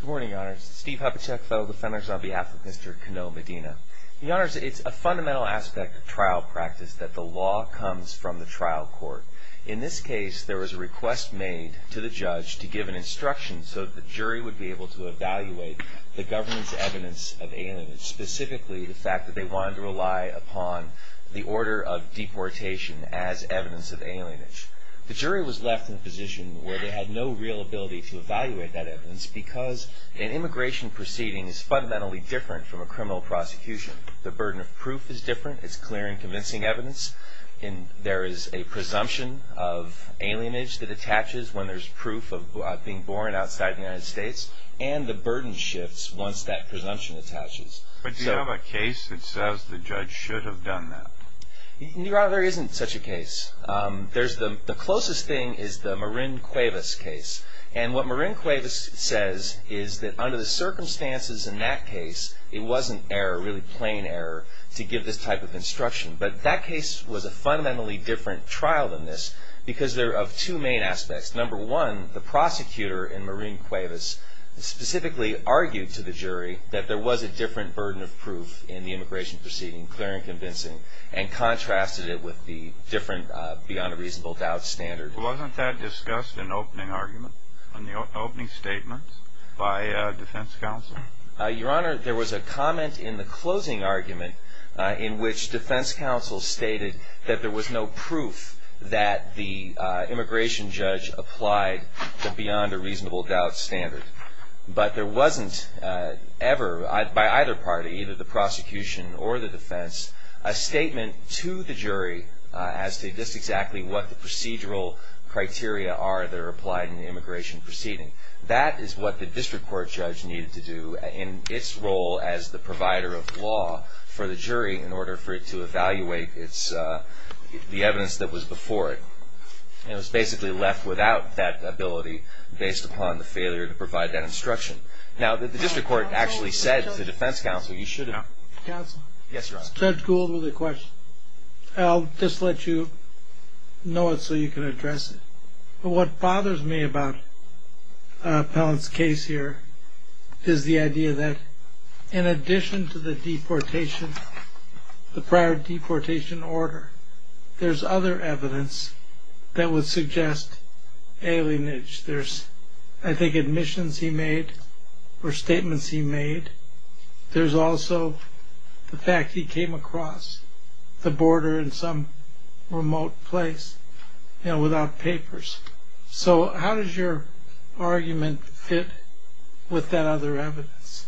Good morning, Your Honors. Steve Hubachek, Federal Defender of the Zombie Afflict, Mr. Cano-Medina. Your Honors, it's a fundamental aspect of trial practice that the law comes from the trial court. In this case, there was a request made to the judge to give an instruction so the jury would be able to evaluate the government's evidence of alienage, specifically the fact that they wanted to rely upon the order of deportation as evidence of alienage. The jury was left in a position where they had no real ability to evaluate that evidence because an immigration proceeding is fundamentally different from a criminal prosecution. The burden of proof is different. It's clear and convincing evidence. There is a presumption of alienage that attaches when there's proof of being born outside the United States, and the burden shifts once that presumption attaches. But do you have a case that says the judge should have done that? Your Honor, there isn't such a case. The closest thing is the Marin Cuevas case. And what Marin Cuevas says is that under the circumstances in that case, it wasn't error, really plain error, to give this type of instruction. But that case was a fundamentally different trial than this because they're of two main aspects. Number one, the prosecutor in Marin Cuevas specifically argued to the jury that there was a different burden of proof in the immigration proceeding, clear and convincing, and contrasted it with the different beyond a reasonable doubt standard. Wasn't that discussed in the opening argument, in the opening statement by defense counsel? Your Honor, there was a comment in the closing argument in which defense counsel stated that there was no proof that the immigration judge applied the beyond a reasonable doubt standard. But there wasn't ever, by either party, either the prosecution or the defense, a statement to the jury as to just exactly what the procedural criteria are that are applied in the immigration proceeding. That is what the district court judge needed to do in its role as the provider of law for the jury in order for it to evaluate the evidence that was before it. And it was basically left without that ability based upon the failure to provide that instruction. Now, the district court actually said to the defense counsel, you should have. Counsel? Yes, Your Honor. Judge Gould with a question. I'll just let you know it so you can address it. But what bothers me about Pellant's case here is the idea that in addition to the deportation, the prior deportation order, there's other evidence that would suggest alienage. There's, I think, admissions he made or statements he made. There's also the fact he came across the border in some remote place without papers. So how does your argument fit with that other evidence?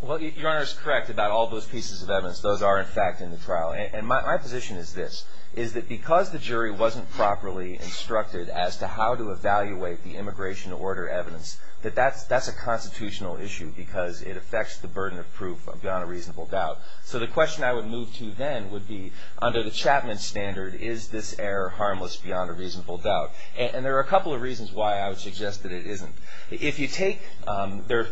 Well, Your Honor is correct about all those pieces of evidence. Those are, in fact, in the trial. And my position is this, is that because the jury wasn't properly instructed as to how to evaluate the immigration order evidence, that that's a constitutional issue because it affects the burden of proof beyond a reasonable doubt. So the question I would move to then would be, under the Chapman standard, is this error harmless beyond a reasonable doubt? And there are a couple of reasons why I would suggest that it isn't. If you take,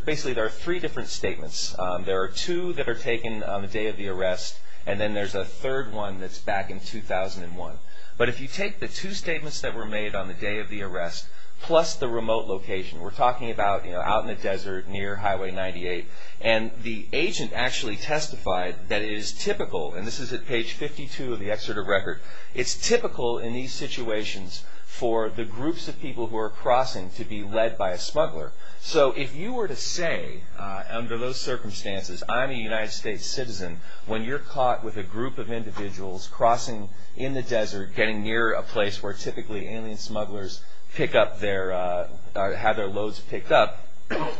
basically there are three different statements. There are two that are taken on the day of the arrest. And then there's a third one that's back in 2001. But if you take the two statements that were made on the day of the arrest plus the remote location, we're talking about out in the desert near Highway 98. And the agent actually testified that it is typical, and this is at page 52 of the excerpt of record, it's typical in these situations for the groups of people who are crossing to be led by a smuggler. So if you were to say, under those circumstances, I'm a United States citizen, when you're caught with a group of individuals crossing in the desert, or getting near a place where typically alien smugglers pick up their, or have their loads picked up,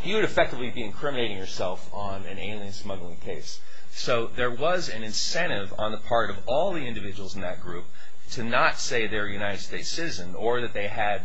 you would effectively be incriminating yourself on an alien smuggling case. So there was an incentive on the part of all the individuals in that group to not say they're a United States citizen or that they had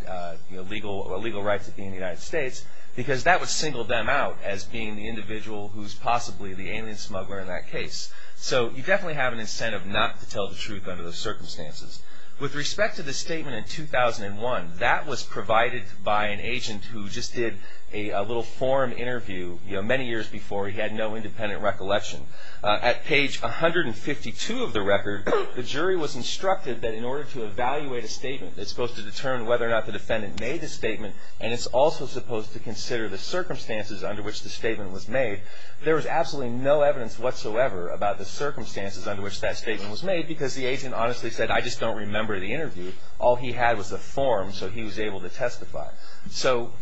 legal rights of being in the United States because that would single them out as being the individual who's possibly the alien smuggler in that case. So you definitely have an incentive not to tell the truth under those circumstances. With respect to the statement in 2001, that was provided by an agent who just did a little forum interview many years before he had no independent recollection. At page 152 of the record, the jury was instructed that in order to evaluate a statement, it's supposed to determine whether or not the defendant made the statement, and it's also supposed to consider the circumstances under which the statement was made. There was absolutely no evidence whatsoever about the circumstances under which that statement was made because the agent honestly said, I just don't remember the interview. All he had was a form so he was able to testify. So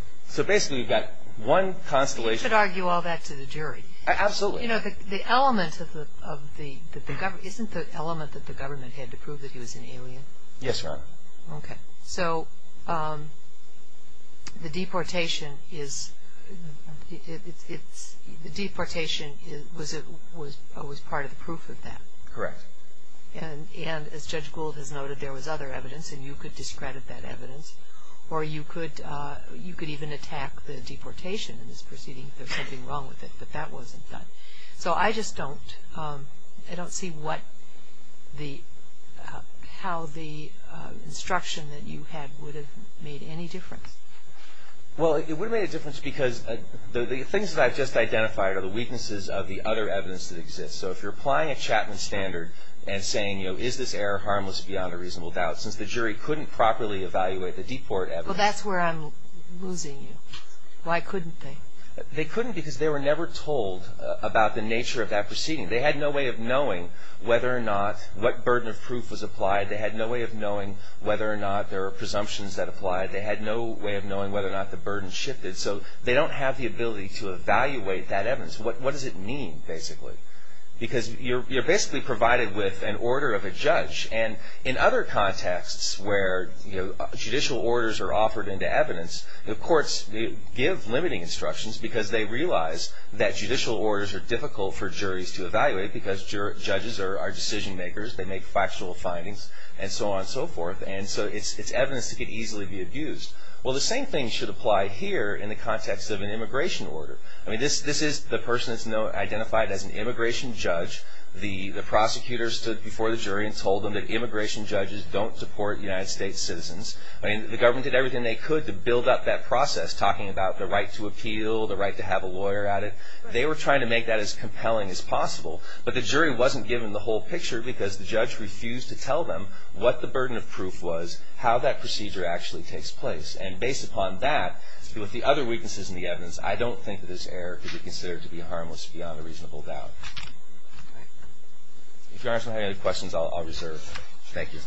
basically you've got one constellation. You should argue all that to the jury. Absolutely. You know, the element of the, isn't the element that the government had to prove that he was an alien? Yes, Your Honor. Okay. So the deportation is, it's, the deportation was part of the proof of that. Correct. And as Judge Gould has noted, there was other evidence and you could discredit that evidence or you could even attack the deportation in this proceeding if there was something wrong with it, but that wasn't done. So I just don't, I don't see what the, how the instruction that you had would have made any difference. Well, it would have made a difference because the things that I've just identified are the weaknesses of the other evidence that exists. So if you're applying a Chapman standard and saying, you know, is this error harmless beyond a reasonable doubt, since the jury couldn't properly evaluate the deport evidence. Well, that's where I'm losing you. Why couldn't they? They couldn't because they were never told about the nature of that proceeding. They had no way of knowing whether or not, what burden of proof was applied. They had no way of knowing whether or not there were presumptions that applied. They had no way of knowing whether or not the burden shifted. So they don't have the ability to evaluate that evidence. What does it mean, basically? Because you're basically provided with an order of a judge. And in other contexts where, you know, judicial orders are offered into evidence, the courts give limiting instructions because they realize that judicial orders are difficult for juries to evaluate because judges are decision makers. They make factual findings and so on and so forth. And so it's evidence that could easily be abused. Well, the same thing should apply here in the context of an immigration order. I mean, this is the person that's identified as an immigration judge. The prosecutor stood before the jury and told them that immigration judges don't deport United States citizens. I mean, the government did everything they could to build up that process, talking about the right to appeal, the right to have a lawyer at it. They were trying to make that as compelling as possible. But the jury wasn't given the whole picture because the judge refused to tell them what the burden of proof was, how that procedure actually takes place. And based upon that, with the other weaknesses in the evidence, I don't think that this error could be considered to be harmless beyond a reasonable doubt. If Your Honor doesn't have any other questions, I'll reserve. Thank you. Thank you.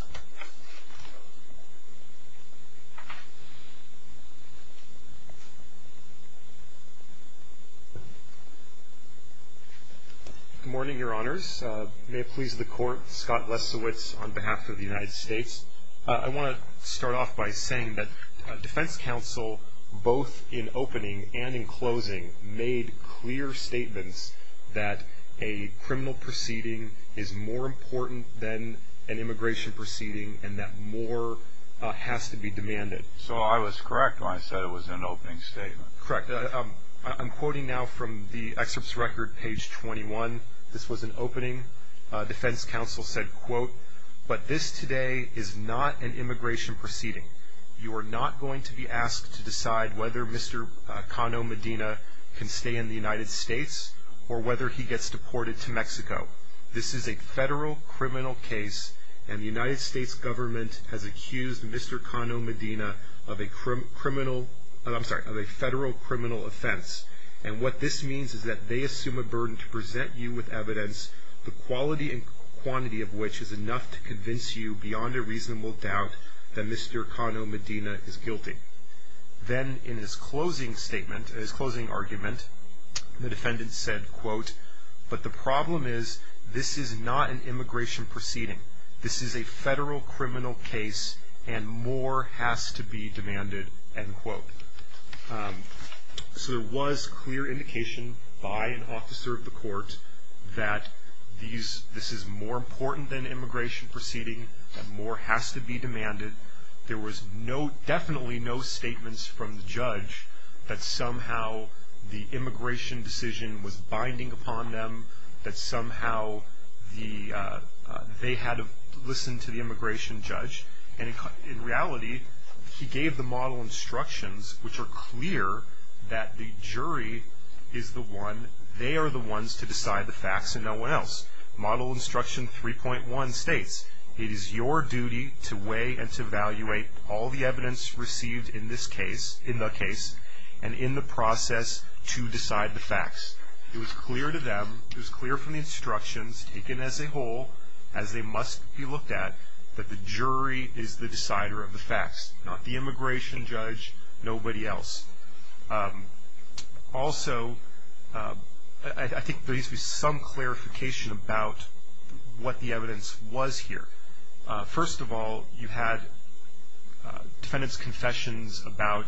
Good morning, Your Honors. May it please the Court, Scott Lesiewicz on behalf of the United States. I want to start off by saying that defense counsel, both in opening and in closing, made clear statements that a criminal proceeding is more important than an immigration proceeding and that more has to be demanded. So I was correct when I said it was an opening statement. Correct. I'm quoting now from the excerpt's record, page 21. This was an opening. Defense counsel said, quote, but this today is not an immigration proceeding. You are not going to be asked to decide whether Mr. Cano Medina can stay in the United States or whether he gets deported to Mexico. This is a federal criminal case, and the United States government has accused Mr. Cano Medina of a federal criminal offense. And what this means is that they assume a burden to present you with evidence, the quality and quantity of which is enough to convince you beyond a reasonable doubt that Mr. Cano Medina is guilty. Then in his closing statement, his closing argument, the defendant said, quote, but the problem is this is not an immigration proceeding. This is a federal criminal case, and more has to be demanded, end quote. So there was clear indication by an officer of the court that this is more important than immigration proceeding, that more has to be demanded. There was definitely no statements from the judge that somehow the immigration decision was binding upon them, that somehow they had listened to the immigration judge. And in reality, he gave the model instructions, which are clear that the jury is the one, they are the ones to decide the facts and no one else. Model instruction 3.1 states, it is your duty to weigh and to evaluate all the evidence received in this case, in the case, and in the process to decide the facts. It was clear to them, it was clear from the instructions taken as a whole, as they must be looked at, that the jury is the decider of the facts, not the immigration judge, nobody else. Also, I think there needs to be some clarification about what the evidence was here. First of all, you had defendant's confessions about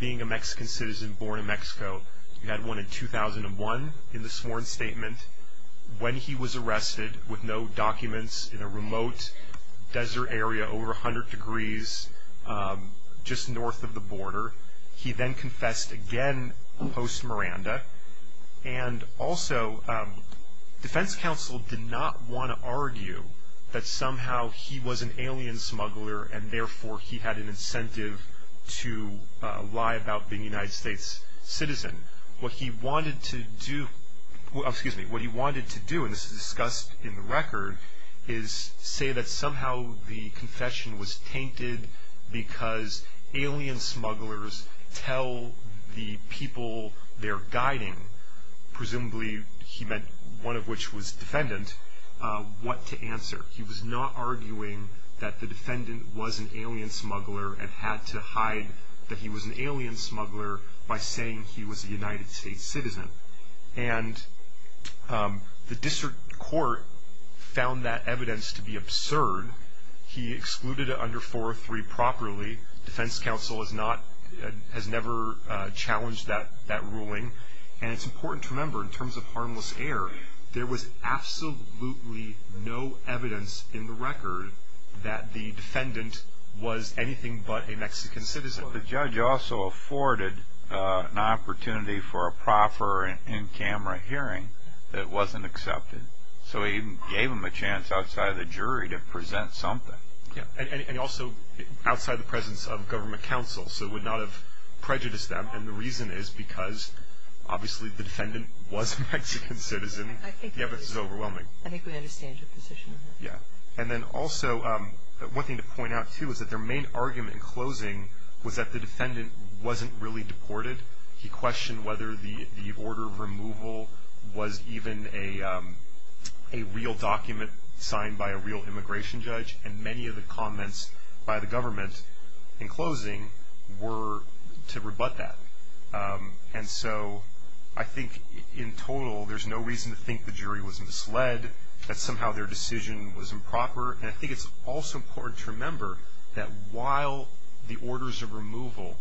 being a Mexican citizen born in Mexico. You had one in 2001 in the sworn statement, when he was arrested with no documents in a remote desert area over 100 degrees just north of the border. He then confessed again post-Miranda. And also, defense counsel did not want to argue that somehow he was an alien smuggler and therefore he had an incentive to lie about being a United States citizen. What he wanted to do, and this is discussed in the record, is say that somehow the confession was tainted because alien smugglers tell the people they're guiding, presumably he meant one of which was defendant, what to answer. He was not arguing that the defendant was an alien smuggler and had to hide that he was an alien smuggler by saying he was a United States citizen. And the district court found that evidence to be absurd. He excluded it under 403 properly. Defense counsel has never challenged that ruling. And it's important to remember, in terms of harmless air, there was absolutely no evidence in the record that the defendant was anything but a Mexican citizen. But the judge also afforded an opportunity for a proper in-camera hearing that wasn't accepted. So he even gave him a chance outside of the jury to present something. And also outside the presence of government counsel. So it would not have prejudiced them. And the reason is because obviously the defendant was a Mexican citizen. The evidence is overwhelming. I think we understand your position. Yeah. And then also one thing to point out, too, is that their main argument in closing was that the defendant wasn't really deported. He questioned whether the order of removal was even a real document signed by a real immigration judge. And many of the comments by the government in closing were to rebut that. And so I think in total there's no reason to think the jury was misled. That somehow their decision was improper. And I think it's also important to remember that while the orders of removal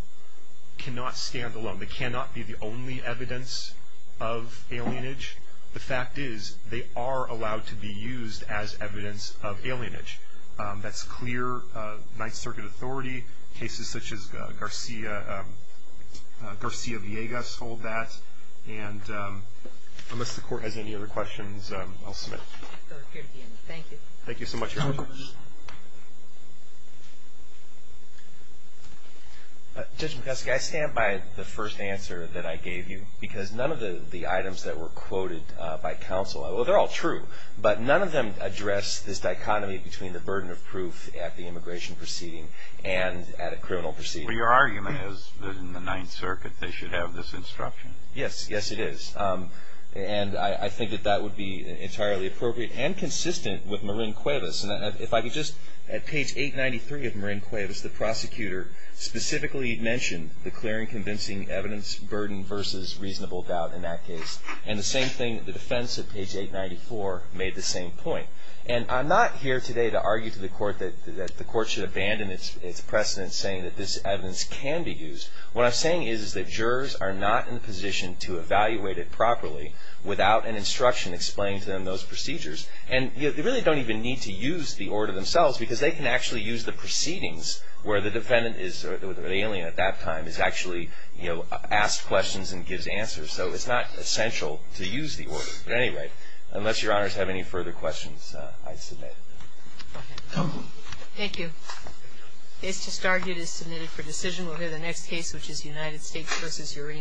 cannot stand alone, they cannot be the only evidence of alienage, the fact is they are allowed to be used as evidence of alienage. That's clear. Ninth Circuit authority, cases such as Garcia-Villegas hold that. And unless the Court has any other questions, I'll submit it. Thank you. Thank you so much, Your Honor. Judge McCusk, I stand by the first answer that I gave you because none of the items that were quoted by counsel, well, they're all true, but none of them address this dichotomy between the burden of proof at the immigration proceeding and at a criminal proceeding. Well, your argument is that in the Ninth Circuit they should have this instruction. Yes. Yes, it is. And I think that that would be entirely appropriate and consistent with Marin Cuevas. And if I could just, at page 893 of Marin Cuevas, the prosecutor specifically mentioned declaring convincing evidence burden versus reasonable doubt in that case. And the same thing, the defense at page 894 made the same point. And I'm not here today to argue to the Court that the Court should abandon its precedent saying that this evidence can be used. What I'm saying is that jurors are not in a position to evaluate it properly without an instruction explaining to them those procedures. And they really don't even need to use the order themselves because they can actually use the proceedings where the defendant is, or the alien at that time, is actually, you know, asked questions and gives answers. So it's not essential to use the order. But anyway, unless Your Honors have any further questions, I submit. Thank you. Case to start is submitted for decision. We'll hear the next case, which is United States v. Urena.